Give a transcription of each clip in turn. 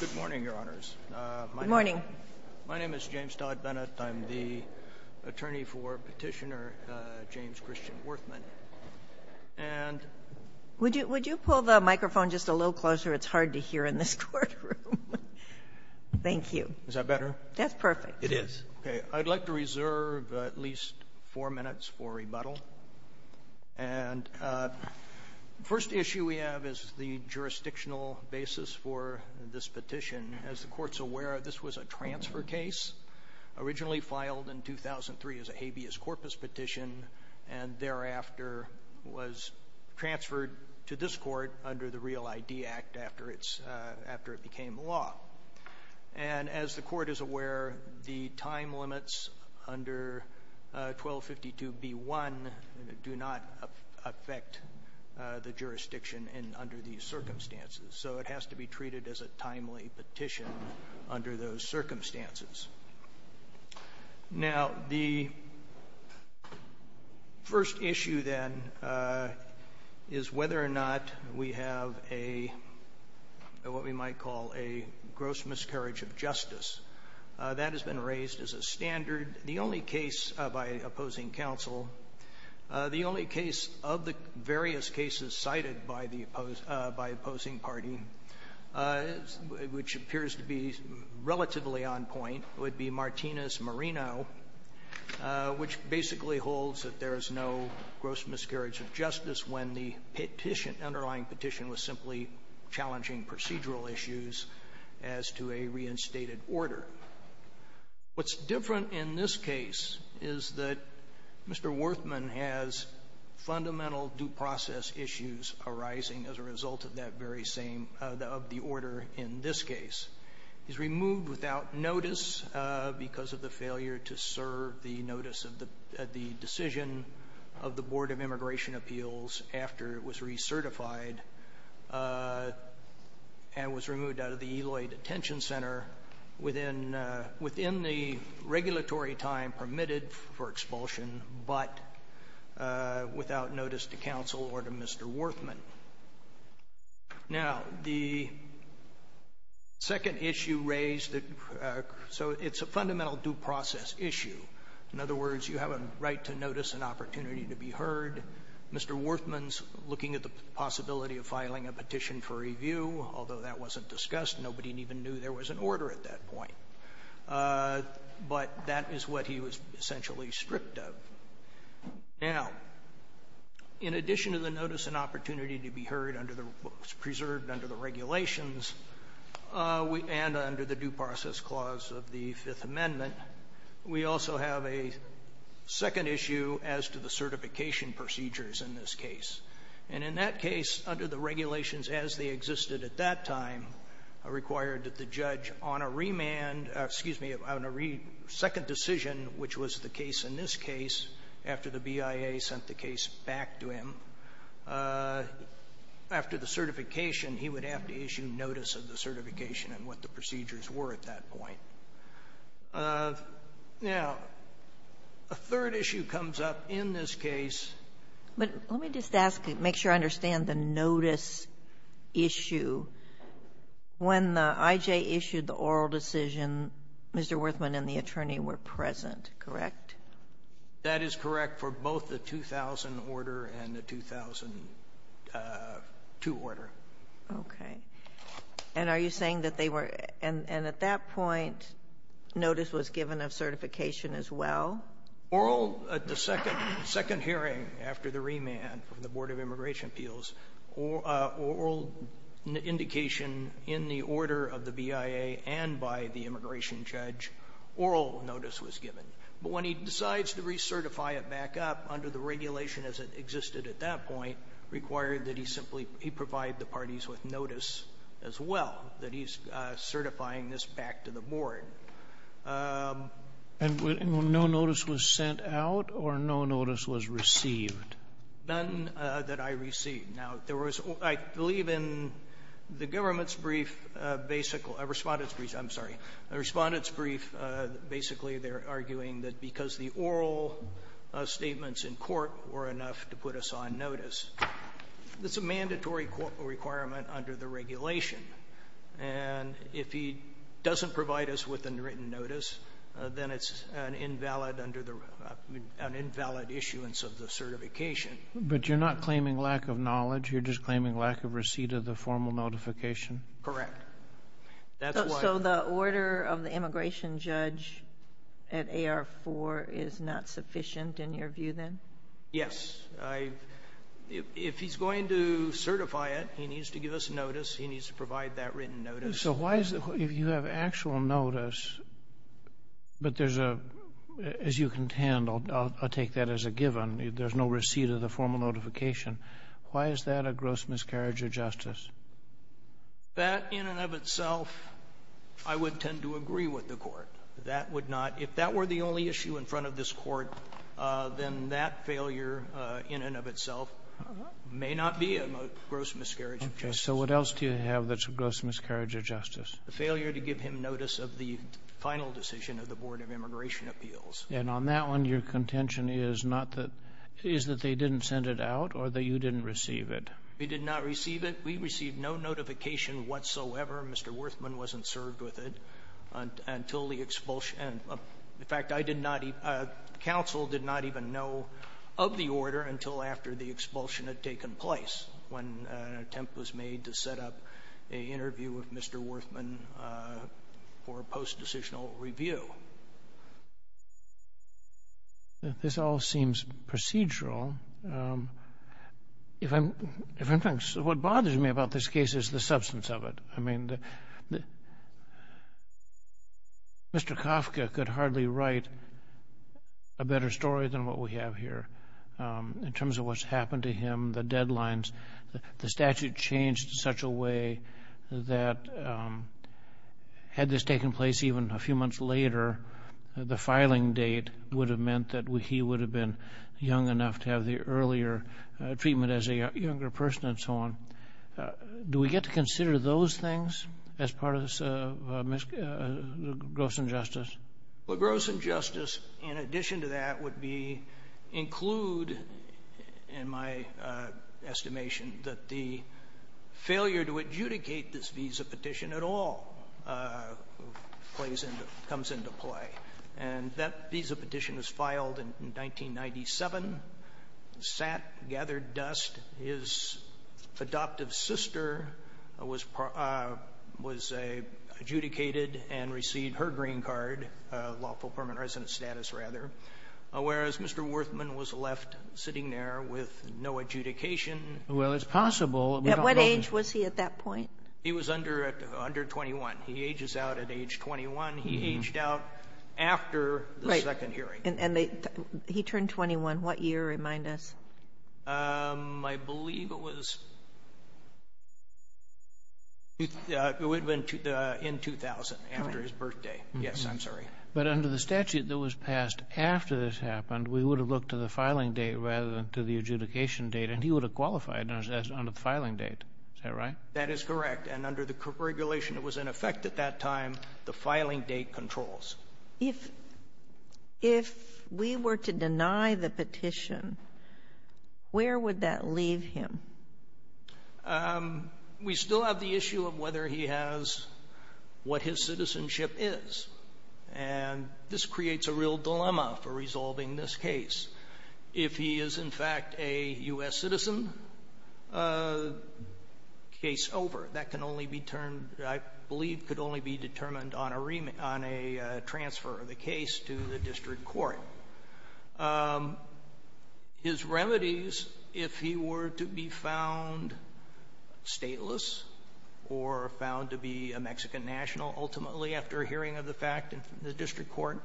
Good morning, Your Honors. Good morning. My name is James Todd Bennett. I'm the attorney for Petitioner James Christian Werthmann. Would you pull the microphone just a little closer? It's hard to hear in this courtroom. Thank you. Is that better? That's perfect. It is. Okay. I'd like to reserve at least four minutes for rebuttal. And the first issue we have is the jurisdictional basis for this petition. As the Court's aware, this was a transfer case, originally filed in 2003 as a habeas corpus petition, and thereafter was transferred to this Court under the Real ID Act after it became law. And as the Court is aware, the time limits under 1252b1 do not affect the jurisdiction under these circumstances, so it has to be treated as a timely petition under those circumstances. Now, the first issue, then, is whether or not we have a — what we might call a gross miscarriage of justice. That has been raised as a standard. The only case by opposing counsel, the only case of the various cases cited by the — by on point would be Martinez-Marino, which basically holds that there is no gross miscarriage of justice when the petition, underlying petition, was simply challenging procedural issues as to a reinstated order. What's different in this case is that Mr. Werthmann has fundamental due process issues arising as a result of that very same — of the order in this case. He's removed without notice because of the failure to serve the notice of the decision of the Board of Immigration Appeals after it was recertified and was removed out of the Eloy Detention Center within the regulatory time permitted for expulsion, but without notice to counsel or to Mr. Werthmann. Now, the second issue raised — so it's a fundamental due process issue. In other words, you have a right to notice and opportunity to be heard. Mr. Werthmann's looking at the possibility of filing a petition for review, although that wasn't discussed. Nobody even knew there was an order at that point. But that is what he was essentially stripped of. Now, in addition to the notice and opportunity to be heard under the — preserved under the regulations and under the due process clause of the Fifth Amendment, we also have a second issue as to the certification procedures in this case. And in that case, under the regulations as they existed at that time, required that the judge on a remand — excuse me, on a second decision, which was the case in this case, after the BIA sent the case back to him, after the certification, he would have to issue notice of the certification and what the procedures were at that point. Now, a third issue comes up in this case — But let me just ask — make sure I understand the notice issue. When I.J. issued the oral decision, Mr. Werthmann and the attorney were present, correct? That is correct for both the 2000 order and the 2002 order. Okay. And are you saying that they were — and at that point, notice was given of certification as well? Oral. At the second hearing, after the remand from the Board of Immigration Appeals, oral indication in the order of the BIA and by the immigration judge, oral notice was given. But when he decides to recertify it back up, under the regulation as it existed at that point, required that he simply — he provide the parties with notice as well, that he's certifying this back to the board. And no notice was sent out, or no notice was received? None that I received. Now, there was — I believe in the government's brief, basic — respondent's brief — I'm assuming that because the oral statements in court were enough to put us on notice. That's a mandatory requirement under the regulation. And if he doesn't provide us with a written notice, then it's an invalid under the — an invalid issuance of the certification. But you're not claiming lack of knowledge? You're just claiming lack of receipt of the formal notification? Correct. That's why — So the order of the immigration judge at AR-4 is not sufficient, in your view, then? Yes. I — if he's going to certify it, he needs to give us notice, he needs to provide that written notice. So why is — if you have actual notice, but there's a — as you contend, I'll take that as a given, there's no receipt of the formal notification, why is that a gross miscarriage of justice? That, in and of itself, I would tend to agree with the Court. That would not — if that were the only issue in front of this Court, then that failure, in and of itself, may not be a gross miscarriage of justice. So what else do you have that's a gross miscarriage of justice? The failure to give him notice of the final decision of the Board of Immigration Appeals. And on that one, your contention is not that — is that they didn't send it out or that you didn't receive it? We did not receive it. We received no notification whatsoever. Mr. Werthmann wasn't served with it until the expulsion — in fact, I did not — counsel did not even know of the order until after the expulsion had taken place, when an attempt was made to set up an interview with Mr. Werthmann for post-decisional review. This all seems procedural. If I'm — what bothers me about this case is the substance of it. I mean, Mr. Kafka could hardly write a better story than what we have here, in terms of what's happened to him, the deadlines. The statute changed in such a way that, had this taken place even a few months later, the filing date would have meant that he would have been young enough to have the earlier treatment as a younger person and so on. Do we get to consider those things as part of this gross injustice? Well, gross injustice, in addition to that, would be — include, in my estimation, that the failure to adjudicate this visa petition at all plays into — comes into play. And that visa petition was filed in 1997, sat, gathered dust. His adoptive sister was adjudicated and received her green card — lawful permanent resident status, rather — whereas Mr. Werthmann was left sitting there with no adjudication. Well, it's possible. At what age was he at that point? He was under 21. He ages out at age 21. He aged out after the second hearing. Right. And he turned 21. What year? Remind us. I believe it was — it would have been in 2000, after his birthday. Correct. Yes, I'm sorry. But under the statute that was passed after this happened, we would have looked to the filing date rather than to the adjudication date, and he would have qualified under the filing date. Is that right? That is correct. And under the regulation that was in effect at that time, the filing date controls. If we were to deny the petition, where would that leave him? We still have the issue of whether he has what his citizenship is, and this creates a real dilemma for resolving this case. If he is, in fact, a U.S. citizen, case over. That can only be termed — I believe could only be determined on a transfer of the case to the district court. His remedies, if he were to be found stateless or found to be a Mexican national, ultimately after hearing of the fact in the district court,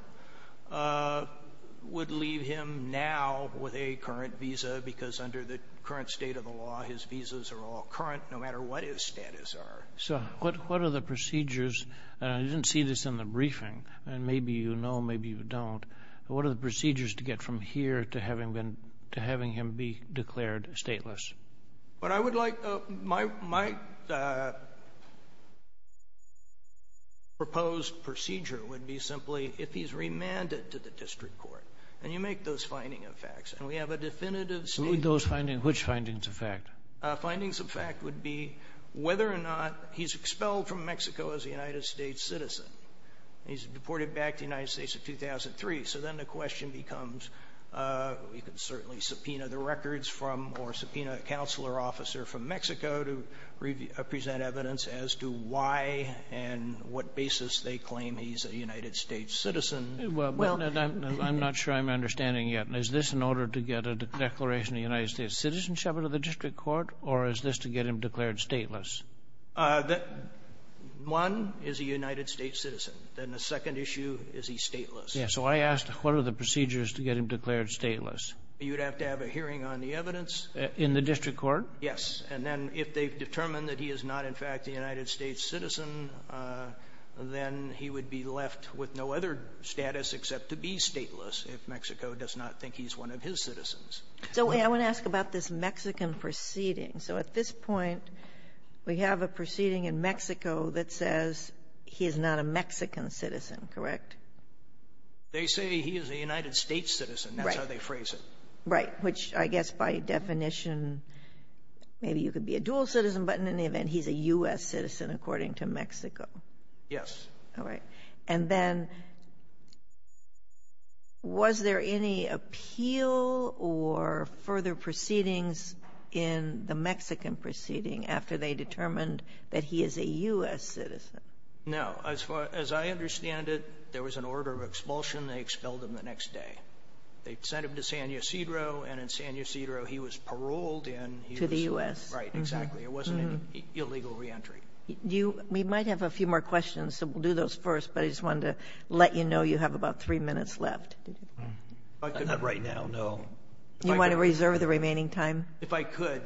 would leave him now with a current visa, because under the current state of the law, his visas are all current, no matter what his status are. So what are the procedures — and I didn't see this in the briefing, and maybe you know, maybe you don't — but what are the procedures to get from here to having him be declared stateless? What I would like — my proposed procedure would be simply if he's remanded to the district court, and you make those finding of facts, and we have a definitive statement — Those findings? Which findings of fact? Findings of fact would be whether or not he's expelled from Mexico as a United States citizen. He's deported back to the United States in 2003. So then the question becomes, you can certainly subpoena the records from or subpoena a counselor officer from Mexico to present evidence as to why and what basis they claim he's a United States citizen. Well — Well, I'm not sure I'm understanding yet. Is this in order to get a declaration of a United States citizenship into the district court, or is this to get him declared stateless? One is a United States citizen, and the second issue is he's stateless. Yeah, so I asked, what are the procedures to get him declared stateless? You'd have to have a hearing on the evidence. In the district court? And then if they've determined that he is not, in fact, a United States citizen, then he would be left with no other status except to be stateless if Mexico does not think he's one of his citizens. So I want to ask about this Mexican proceeding. So at this point, we have a proceeding in Mexico that says he is not a Mexican citizen, correct? They say he is a United States citizen. Right. That's how they phrase it. Right. Which I guess by definition, maybe you could be a dual citizen, but in any event, he's a U.S. citizen according to Mexico. Yes. All right. And then, was there any appeal or further proceedings in the Mexican proceeding after they determined that he is a U.S. citizen? No. As far as I understand it, there was an order of expulsion. They expelled him the next day. They sent him to San Ysidro, and in San Ysidro, he was paroled and he was... To the U.S.? Right, exactly. It wasn't an illegal reentry. We might have a few more questions, so we'll do those first, but I just wanted to let you know you have about three minutes left. Not right now, no. You want to reserve the remaining time? If I could,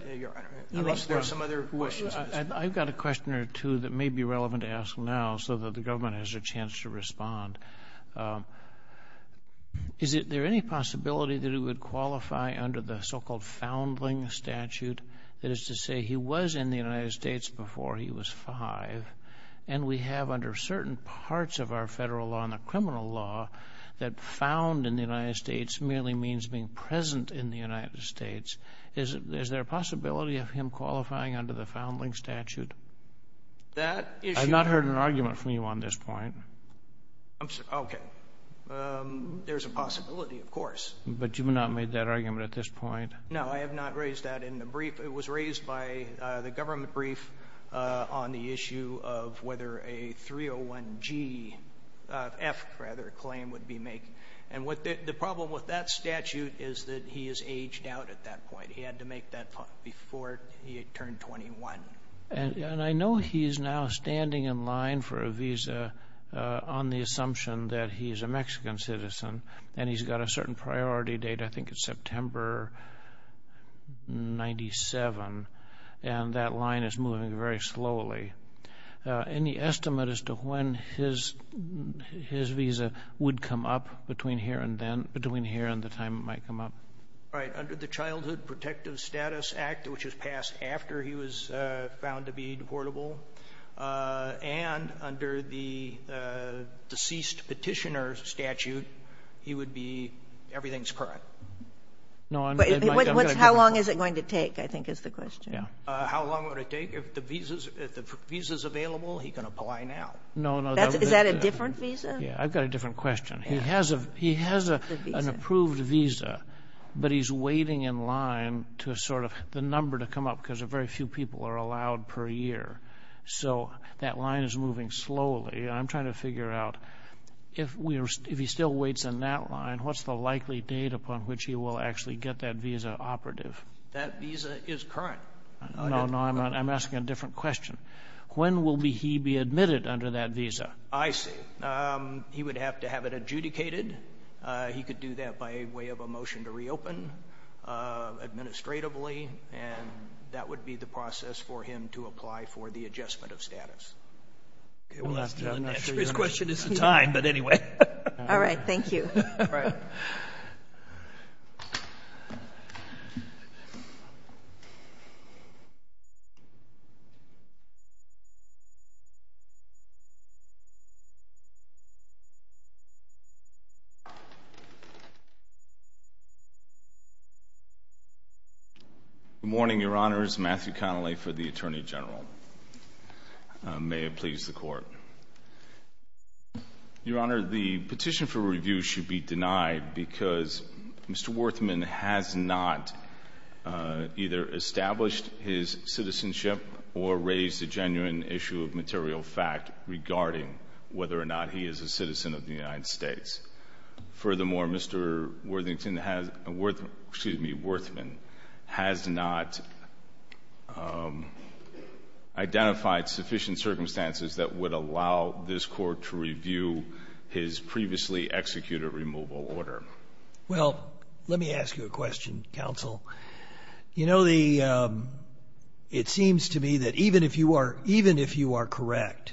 unless there are some other questions. I've got a question or two that may be relevant to ask now so that the government has a chance to respond. Is there any possibility that he would qualify under the so-called foundling statute? That is to say, he was in the United States before he was five, and we have under certain parts of our federal law and the criminal law that found in the United States merely means being present in the United States. Is there a possibility of him qualifying under the foundling statute? That issue... I've not heard an argument from you on this point. Okay. There's a possibility, of course. But you've not made that argument at this point? No, I have not raised that in the brief. It was raised by the government brief on the issue of whether a 301G, F rather, claim would be made. And the problem with that statute is that he is aged out at that point. He had to make that before he had turned 21. And I know he is now standing in line for a visa on the assumption that he is a Mexican citizen, and he's got a certain priority date, I think it's September 97, and that line is moving very slowly. Any estimate as to when his visa would come up between here and the time it might come up? Right. Under the Childhood Protective Status Act, which was passed after he was found to be be everything's current. How long is it going to take, I think is the question. How long would it take? If the visa's available, he can apply now. Is that a different visa? Yeah. I've got a different question. He has an approved visa, but he's waiting in line to sort of... the number to come up because very few people are allowed per year. So that line is moving slowly. I'm trying to figure out, if he still waits in that line, what's the likely date upon which he will actually get that visa operative? That visa is current. No, no. I'm asking a different question. When will he be admitted under that visa? I see. He would have to have it adjudicated. He could do that by way of a motion to reopen administratively, and that would be the process for him to apply for the adjustment of status. Okay. We'll have to... I'm not sure you're... His question is the time, but anyway. All right. Thank you. All right. Good morning, Your Honors. Matthew Connelly for the Attorney General. May it please the Court. Your Honor, the petition for review should be denied because Mr. Werthmann has not either established his citizenship or raised a genuine issue of material fact regarding whether or not he is a citizen of the United States. Furthermore, Mr. Werthmann has not identified sufficient circumstances that would allow this Court to review his previously executed removal order. Well, let me ask you a question, Counsel. You know, it seems to me that even if you are correct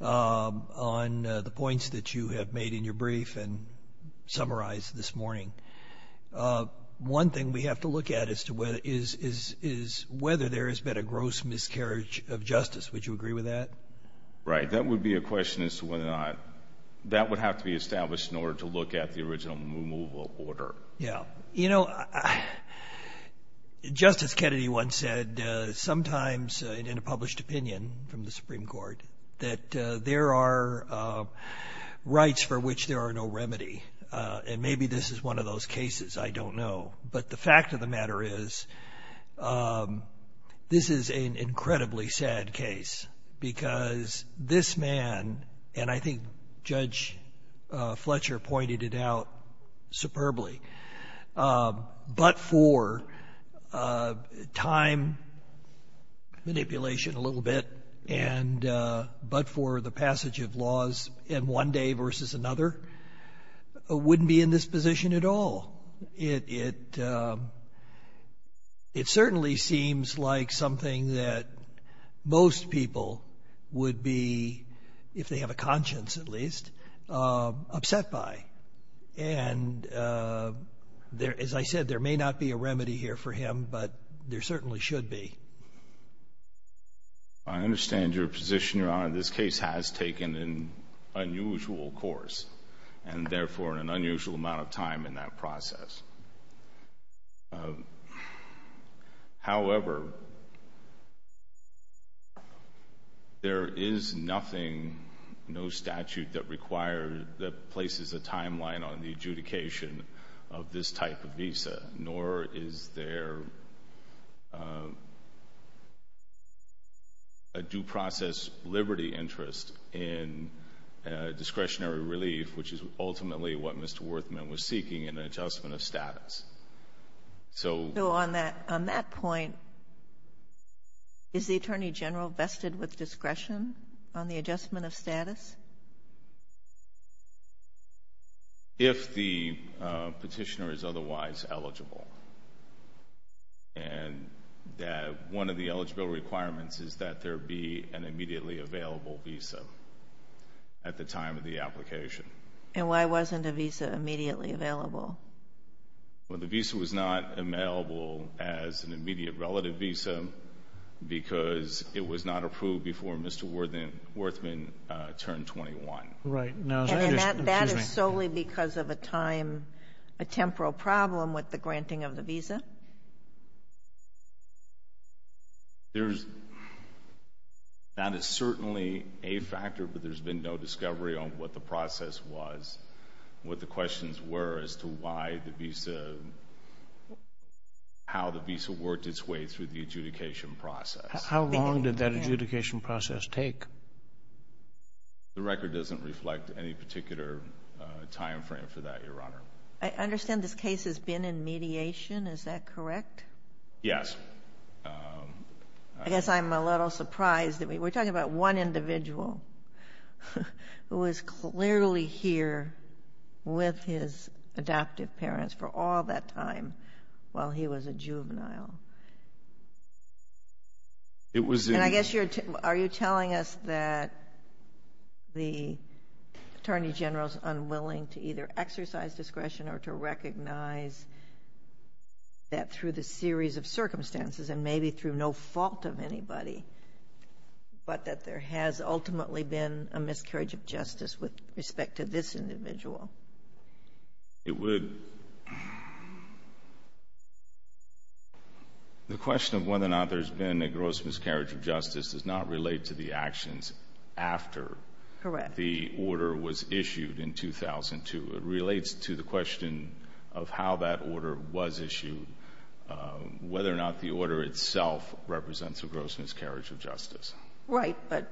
on the points that you have made in your brief and summarized this morning, one thing we have to look at is whether there has been a gross miscarriage of justice. Would you agree with that? Right. That would be a question as to whether or not that would have to be established in order to look at the original removal order. Yeah. You know, Justice Kennedy once said, sometimes in a published opinion from the Supreme Court, that there are rights for which there are no remedy. And maybe this is one of those cases, I don't know. But the fact of the matter is, this is an incredibly sad case because this man, and I think Judge Fletcher pointed it out superbly, but for time manipulation a little bit and but for the passage of laws in one day versus another, wouldn't be in this position at all. It certainly seems like something that most people would be, if they have a conscience at least, upset by. And as I said, there may not be a remedy here for him, but there certainly should be. I understand your position, Your Honor. This case has taken an unusual course, and therefore an unusual amount of time in that process. However, there is nothing, no statute that places a timeline on the adjudication of this type of visa, nor is there a due process liberty interest in discretionary relief, which is ultimately what Mr. Werthmann was seeking, an adjustment of status. So on that point, is the Attorney General vested with discretion on the adjustment of status? If the petitioner is otherwise eligible, and that one of the eligible requirements is that there be an immediately available visa at the time of the application. And why wasn't a visa immediately available? Well, the visa was not available as an immediate relative visa because it was not approved before Mr. Werthmann turned 21. And that is solely because of a time, a temporal problem with the granting of the visa? That is certainly a factor, but there has been no discovery on what the process was, what the questions were as to why the visa, how the visa worked its way through the adjudication process. How long did that adjudication process take? The record doesn't reflect any particular time frame for that, Your Honor. I understand this case has been in mediation, is that correct? Yes. I guess I'm a little surprised that we're talking about one individual who was clearly here with his adoptive parents for all that time while he was a juvenile. It was a... And I guess you're, are you telling us that the Attorney General's unwilling to either exercise discretion or to recognize that through the series of circumstances, and maybe through no fault of anybody, but that there has ultimately been a miscarriage of justice with respect to this individual? It would... The question of whether or not there's been a gross miscarriage of justice does not relate to the actions after the order was issued in 2002. It relates to the question of how that order was issued, whether or not the order itself represents a gross miscarriage of justice. Right, but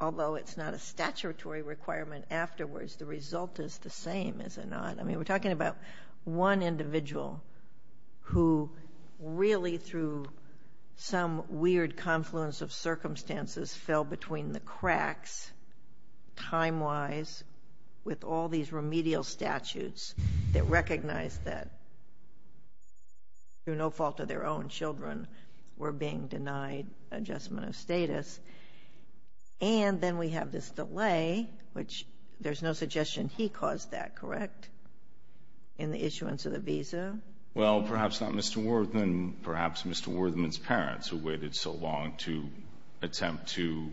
although it's not a statutory requirement afterwards, the result is the same, is it not? I mean, we're talking about one individual who really through some weird confluence of remedial statutes that recognized that through no fault of their own children were being denied adjustment of status. And then we have this delay, which there's no suggestion he caused that, correct, in the issuance of the visa? Well, perhaps not Mr. Werthmann, perhaps Mr. Werthmann's parents who waited so long to attempt to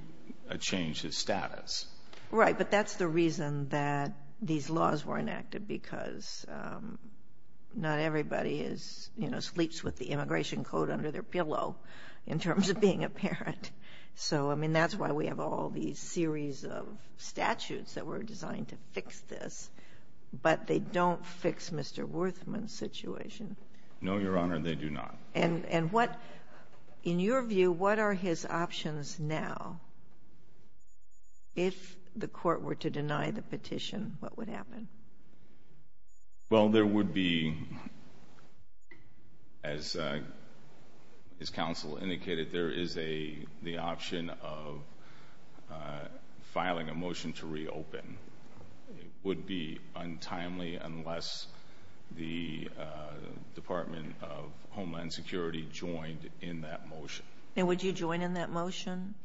change his status. Right, but that's the reason that these laws were enacted, because not everybody sleeps with the immigration code under their pillow in terms of being a parent. So I mean, that's why we have all these series of statutes that were designed to fix this, but they don't fix Mr. Werthmann's situation. No, Your Honor, they do not. And what, in your view, what are his options now? If the court were to deny the petition, what would happen? Well, there would be, as counsel indicated, there is the option of filing a motion to reopen. It would be untimely unless the Department of Homeland Security joined in that motion. And would you join in that motion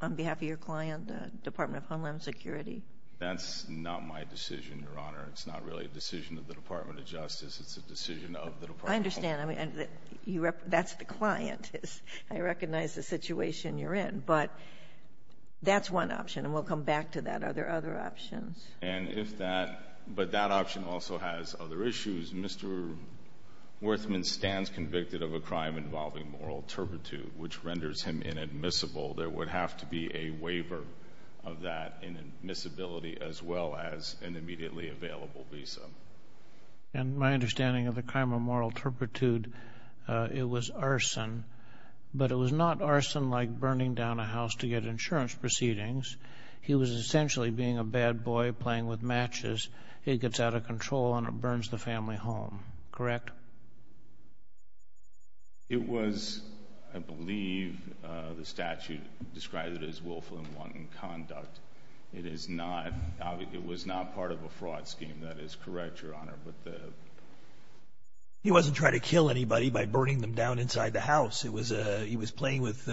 on behalf of your client, the Department of Homeland Security? That's not my decision, Your Honor. It's not really a decision of the Department of Justice, it's a decision of the Department of Homeland Security. I understand. That's the client, I recognize the situation you're in, but that's one option, and we'll come back to that. Are there other options? And if that, but that option also has other issues. Mr. Werthmann stands convicted of a crime involving moral turpitude, which renders him inadmissible. There would have to be a waiver of that inadmissibility, as well as an immediately available visa. And my understanding of the crime of moral turpitude, it was arson, but it was not arson like burning down a house to get insurance proceedings. He was essentially being a bad boy, playing with matches. It gets out of control and it burns the family home, correct? It was, I believe, the statute described it as willful and wanton conduct. It is not, it was not part of a fraud scheme, that is correct, Your Honor, but the... He wasn't trying to kill anybody by burning them down inside the house. It was, he was playing with,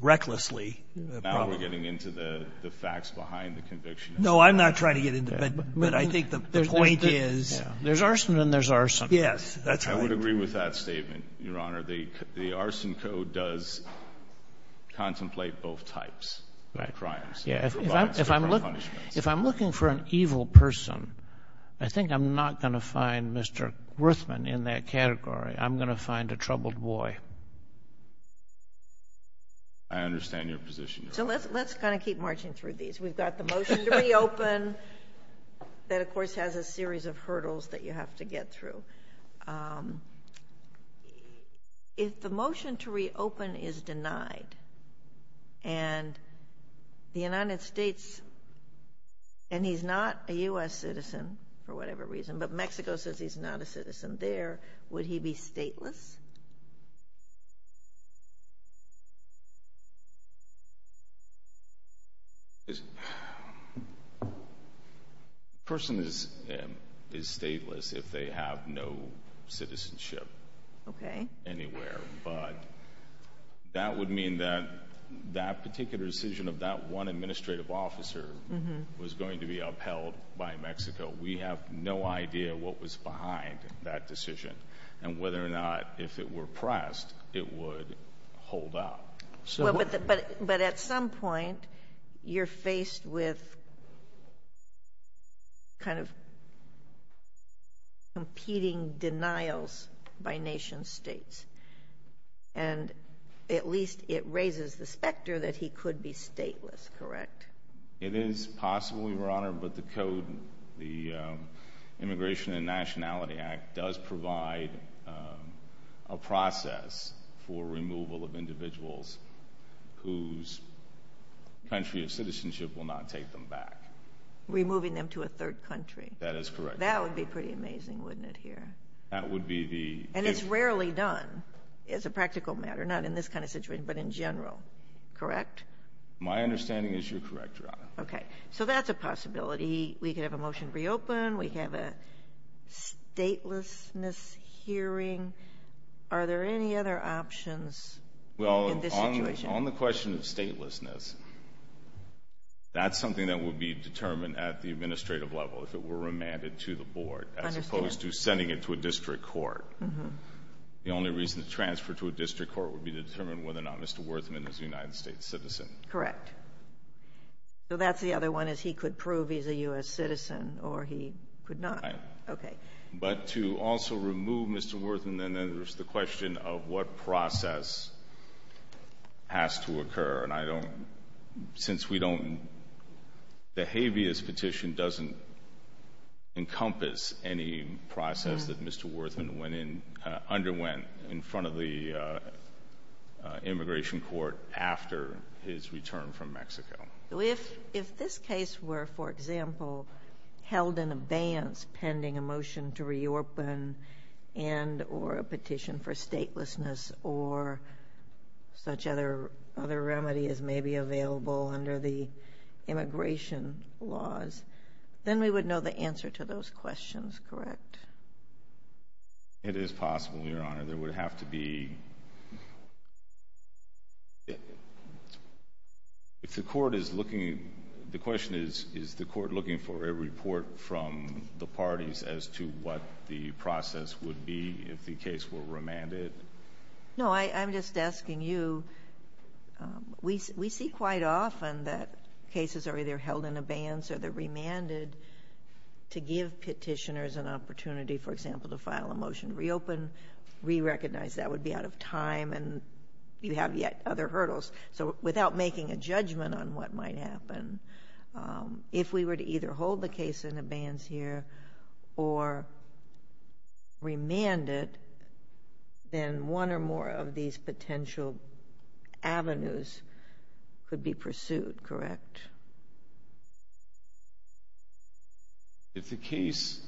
recklessly, probably. I'm not getting into the facts behind the conviction. No, I'm not trying to get into that, but I think the point is... There's arson and there's arson. Yes, that's right. I would agree with that statement, Your Honor. The arson code does contemplate both types of crimes. Right. Provides different punishments. If I'm looking for an evil person, I think I'm not going to find Mr. Werthmann in that category. I'm going to find a troubled boy. I understand your position. So, let's kind of keep marching through these. We've got the motion to reopen that, of course, has a series of hurdles that you have to get through. If the motion to reopen is denied and the United States, and he's not a U.S. citizen for whatever reason, but Mexico says he's not a citizen there, would he be stateless? Person is stateless if they have no citizenship anywhere, but that would mean that that particular decision of that one administrative officer was going to be upheld by Mexico. We have no idea what was behind that decision and whether or not, if it were pressed, it would hold up. But at some point, you're faced with kind of competing denials by nation states, and at least it raises the specter that he could be stateless, correct? It is possible, Your Honor, but the code, the Immigration and Nationality Act, does provide a process for removal of individuals whose country of citizenship will not take them back. Removing them to a third country. That is correct. That would be pretty amazing, wouldn't it, here? That would be the— And it's rarely done as a practical matter, not in this kind of situation, but in general, correct? My understanding is you're correct, Your Honor. Okay. So that's a possibility. We could have a motion to reopen. We could have a statelessness hearing. Are there any other options in this situation? Well, on the question of statelessness, that's something that would be determined at the administrative level, if it were remanded to the board, as opposed to sending it to the district court. The only reason to transfer to a district court would be to determine whether or not Mr. Werthmann is a United States citizen. Correct. So that's the other one, is he could prove he's a U.S. citizen or he could not. Right. Okay. But to also remove Mr. Werthmann, then there's the question of what process has to occur. And I don't—since we don't—the habeas petition doesn't encompass any process that Mr. Werthmann underwent in front of the immigration court after his return from Mexico. If this case were, for example, held in abeyance pending a motion to reopen and or a petition for statelessness or such other remedy as may be available under the immigration laws, then we would know the answer to those questions, correct? It is possible, Your Honor. There would have to be—if the court is looking—the question is, is the court looking for a report from the parties as to what the process would be if the case were remanded? No, I'm just asking you—we see quite often that cases are either held in abeyance or they're remanded to give petitioners an opportunity, for example, to file a motion to reopen, re-recognize. That would be out of time and you have yet other hurdles. So without making a judgment on what might happen, if we were to either hold the case in abeyance here or remand it, then one or more of these potential avenues could be pursued, correct? If the case—yes,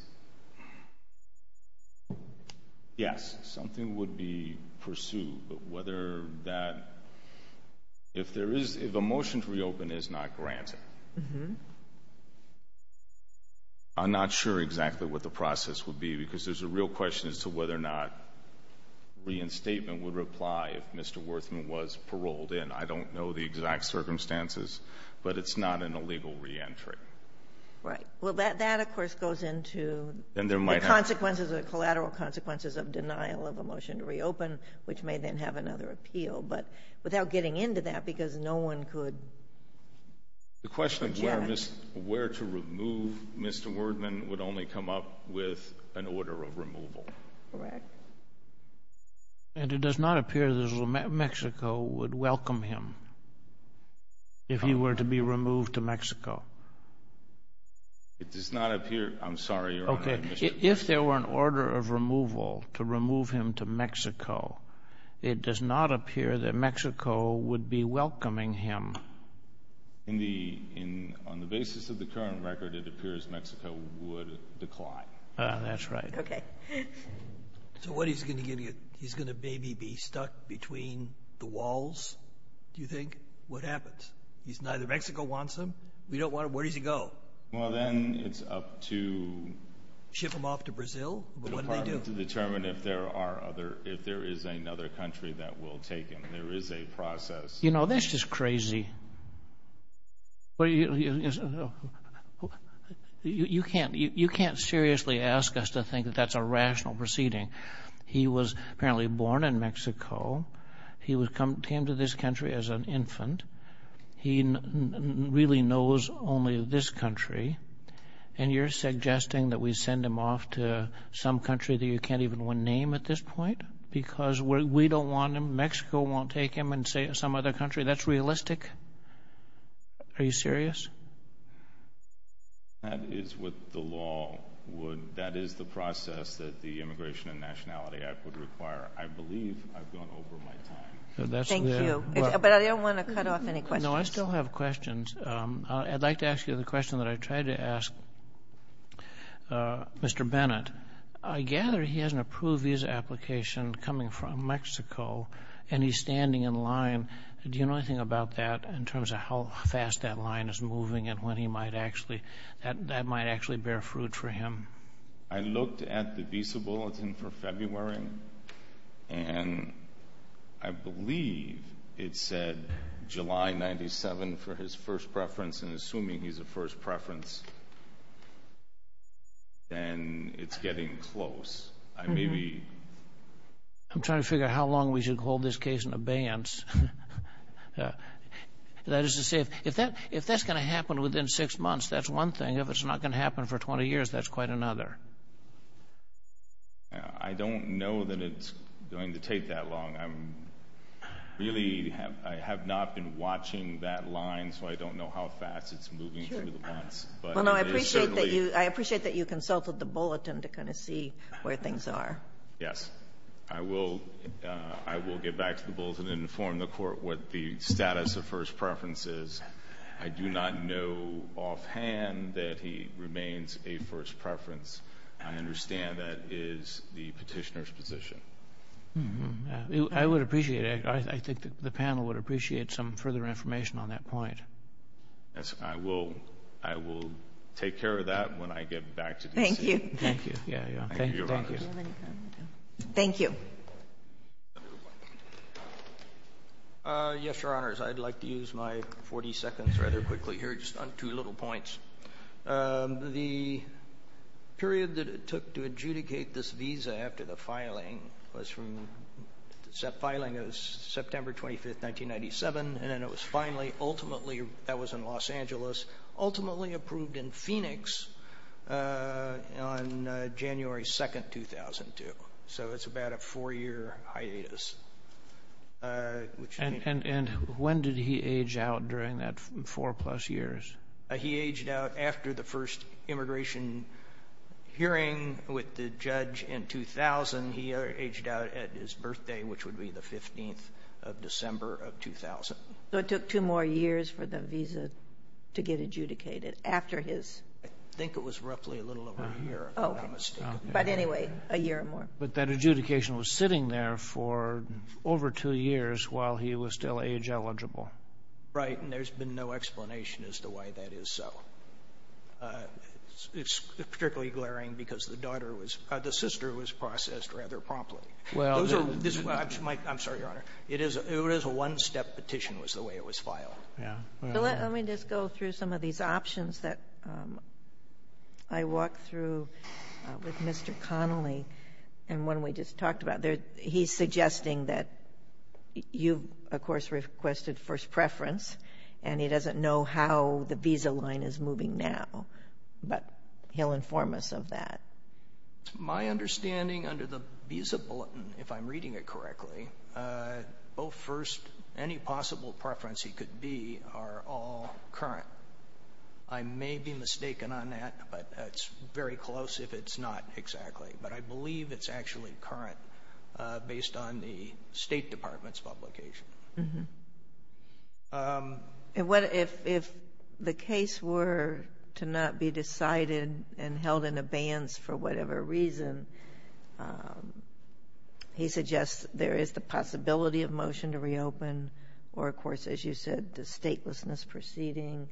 something would be pursued, but whether that—if a motion to reopen is not granted, I'm not sure exactly what the process would be because there's a real question as to whether or not reinstatement would apply if Mr. Werthmann was paroled in. I don't know the exact circumstances, but it's not an illegal re-entry. Right. Well, that, of course, goes into the consequences, the collateral consequences of denial of a motion to reopen, which may then have another appeal. But without getting into that because no one could— The question of where to remove Mr. Werthmann would only come up with an order of removal. Correct. And it does not appear that Mexico would welcome him if he were to be removed to Mexico. It does not appear—I'm sorry, Your Honor. Okay. If there were an order of removal to remove him to Mexico, it does not appear that Mexico would be welcoming him. On the basis of the current record, it appears Mexico would decline. That's right. Okay. So what, he's going to maybe be stuck between the walls, do you think? What happens? Neither Mexico wants him? We don't want him? Where does he go? Well, then it's up to— Ship him off to Brazil? What do they do? The Department to determine if there is another country that will take him. There is a process— You know, that's just crazy. You can't seriously ask us to think that that's a rational proceeding. He was apparently born in Mexico. He came to this country as an infant. He really knows only this country. And you're suggesting that we send him off to some country that you can't even name at this point because we don't want him, Mexico won't take him, and say some other country. That's realistic? Are you serious? That is what the law would—that is the process that the Immigration and Nationality Act would require. I believe I've gone over my time. Thank you. But I don't want to cut off any questions. No, I still have questions. I'd like to ask you the question that I tried to ask Mr. Bennett. I gather he has an approved visa application coming from Mexico, and he's standing in line. Do you know anything about that in terms of how fast that line is moving and when he might actually—that might actually bear fruit for him? I looked at the visa bulletin for February, and I believe it said July 1997 for his first preference, and assuming he's a first preference, then it's getting close. I maybe— I'm trying to figure out how long we should hold this case in abeyance. That is to say, if that's going to happen within six months, that's one thing. If it's not going to happen for 20 years, that's quite another. I don't know that it's going to take that long. I'm really—I have not been watching that line, so I don't know how fast it's moving through the months. But it is certainly— Well, no, I appreciate that you consulted the bulletin to kind of see where things are. Yes. I will get back to the bulletin and inform the Court what the status of first preference is. I do not know offhand that he remains a first preference. I understand that is the petitioner's position. I would appreciate it. I think the panel would appreciate some further information on that point. Yes. I will take care of that when I get back to DC. Thank you. Thank you. Thank you. Thank you. Yes, Your Honors. I'd like to use my 40 seconds rather quickly here just on two little points. The period that it took to adjudicate this visa after the filing was from—the filing was September 25, 1997, and then it was finally, ultimately—that was in Los Angeles—ultimately approved in Phoenix on January 2, 2002. So it's about a four-year hiatus. And when did he age out during that four-plus years? He aged out after the first immigration hearing with the judge in 2000. He aged out at his birthday, which would be the 15th of December of 2000. So it took two more years for the visa to get adjudicated after his— I think it was roughly a little over a year, if I'm not mistaken. But anyway, a year or more. But that adjudication was sitting there for over two years while he was still age-eligible. Right. And there's been no explanation as to why that is so. It's particularly glaring because the daughter was—the sister was processed rather promptly. I'm sorry, Your Honor. It was a one-step petition was the way it was filed. Yeah. Well, let me just go through some of these options that I walked through with Mr. Connolly and one we just talked about. He's suggesting that you, of course, requested first preference, and he doesn't know how the visa line is moving now, but he'll inform us of that. My understanding under the visa bulletin, if I'm reading it correctly, both first—any possible preference he could be are all current. I may be mistaken on that, but it's very close if it's not exactly. But I believe it's actually current based on the State Department's publication. And if the case were to not be decided and held in abeyance for whatever reason, he suggests there is the possibility of motion to reopen or, of course, as you said, the statelessness proceeding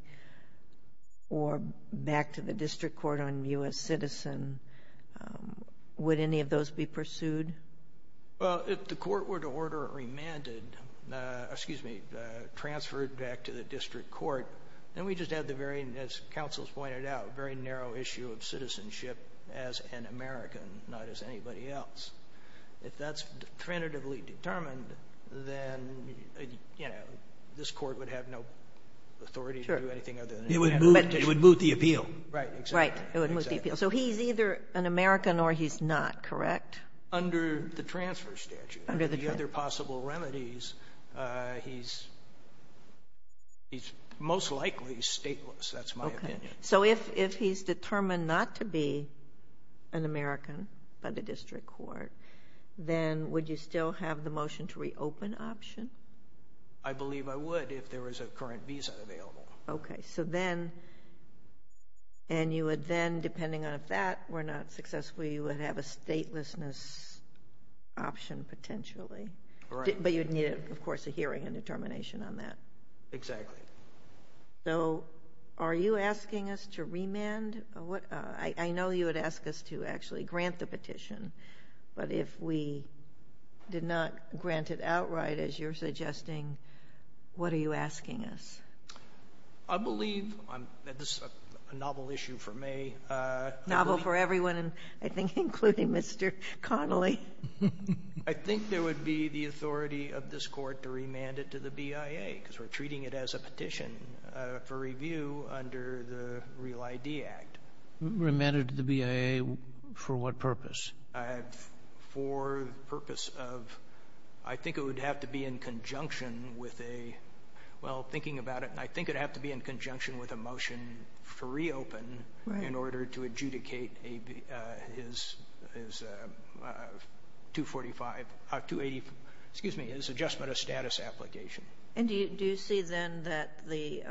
or back to the district court on U.S. citizen. Would any of those be pursued? Well, if the court were to order it remanded, excuse me, transferred back to the district court, then we just have the very, as counsels pointed out, very narrow issue of citizenship as an American, not as anybody else. If that's definitively determined, then this court would have no authority to do anything other than— It would move the appeal. Right. Exactly. Right. It would move the appeal. So he's either an American or he's not, correct? Under the transfer statute. Under the transfer statute. Under the other possible remedies, he's most likely stateless. That's my opinion. Okay. So if he's determined not to be an American by the district court, then would you still have the motion to reopen option? I believe I would if there was a current visa available. Okay. So then, and you would then, depending on if that were not successful, you would have a statelessness option potentially. Right. But you'd need, of course, a hearing and determination on that. Exactly. So are you asking us to remand? I know you would ask us to actually grant the petition, but if we did not grant it outright, as you're suggesting, what are you asking us? I believe, and this is a novel issue for me— I'm sorry, Mr. Connolly. I think there would be the authority of this court to remand it to the BIA, because we're treating it as a petition for review under the Real ID Act. Remand it to the BIA for what purpose? For the purpose of, I think it would have to be in conjunction with a, well, thinking about it, and I think it would have to be in conjunction with a motion for reopen in order to adjudicate his 245—280—excuse me, his adjustment of status application. And do you see then that a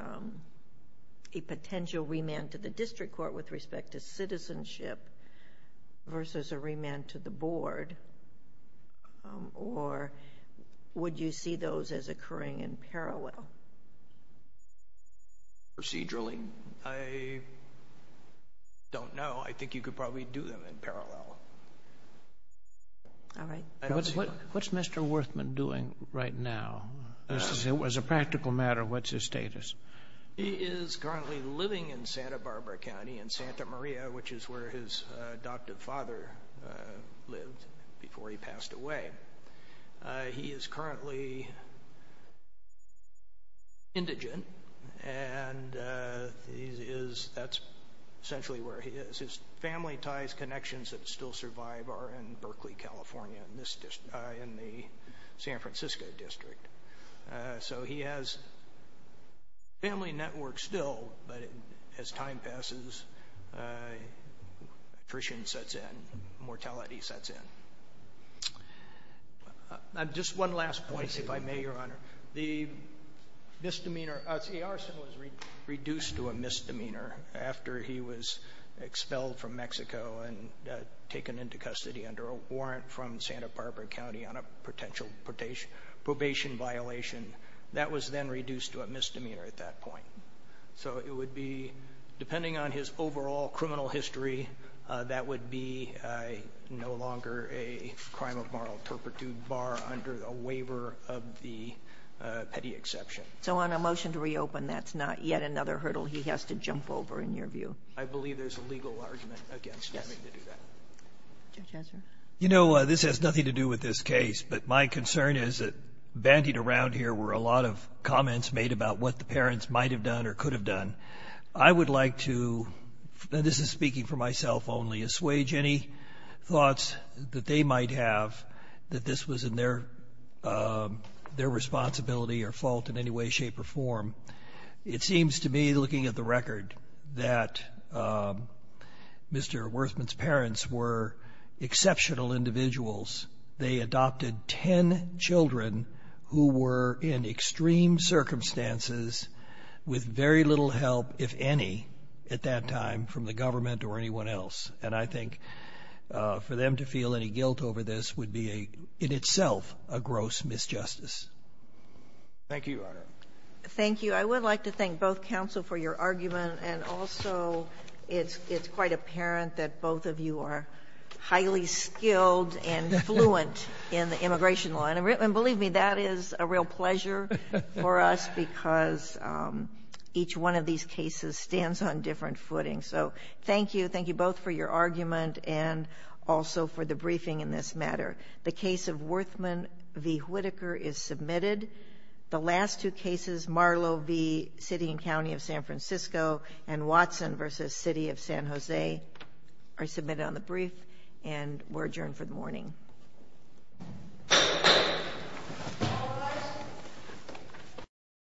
potential remand to the district court with respect to citizenship versus a remand to the board, or would you see those as occurring in parallel? Procedurally, I don't know. I think you could probably do them in parallel. All right. What's Mr. Werthmann doing right now? As a practical matter, what's his status? He is currently living in Santa Barbara County in Santa Maria, which is where his adopted father lived before he passed away. He is currently indigent, and that's essentially where he is. His family ties connections that still survive are in Berkeley, California, in the San Francisco district. So he has family networks still, but as time passes, attrition sets in, mortality sets in. Just one last point, if I may, Your Honor. The misdemeanor—see, Arson was reduced to a misdemeanor after he was expelled from Mexico and taken into custody under a warrant from Santa Barbara County on a potential probation violation. That was then reduced to a misdemeanor at that point. So it would be, depending on his overall criminal history, that would be no longer a crime of moral turpitude, bar under a waiver of the petty exception. So on a motion to reopen, that's not yet another hurdle he has to jump over, in your view? I believe there's a legal argument against having to do that. Judge Ezra? You know, this has nothing to do with this case, but my concern is that bandied around here were a lot of comments made about what the parents might have done or could have done. I would like to—and this is speaking for myself only—assuage any thoughts that they might have that this was in their responsibility or fault in any way, shape, or form. It seems to me, looking at the record, that Mr. Werthmann's parents were exceptional individuals. They adopted 10 children who were in extreme circumstances with very little help, if any, at that time from the government or anyone else. And I think for them to feel any guilt over this would be, in itself, a gross misjustice. Thank you, Your Honor. Thank you. I would like to thank both counsel for your argument, and also it's quite apparent that both of you are highly skilled and fluent in the immigration law. And believe me, that is a real pleasure for us because each one of these cases stands on different footings. So thank you. Thank you both for your argument and also for the briefing in this matter. The case of Werthmann v. Whitaker is submitted. The last two cases, Marlowe v. City and County of San Francisco and Watson v. City of San Jose, are submitted on the brief and were adjourned for the morning.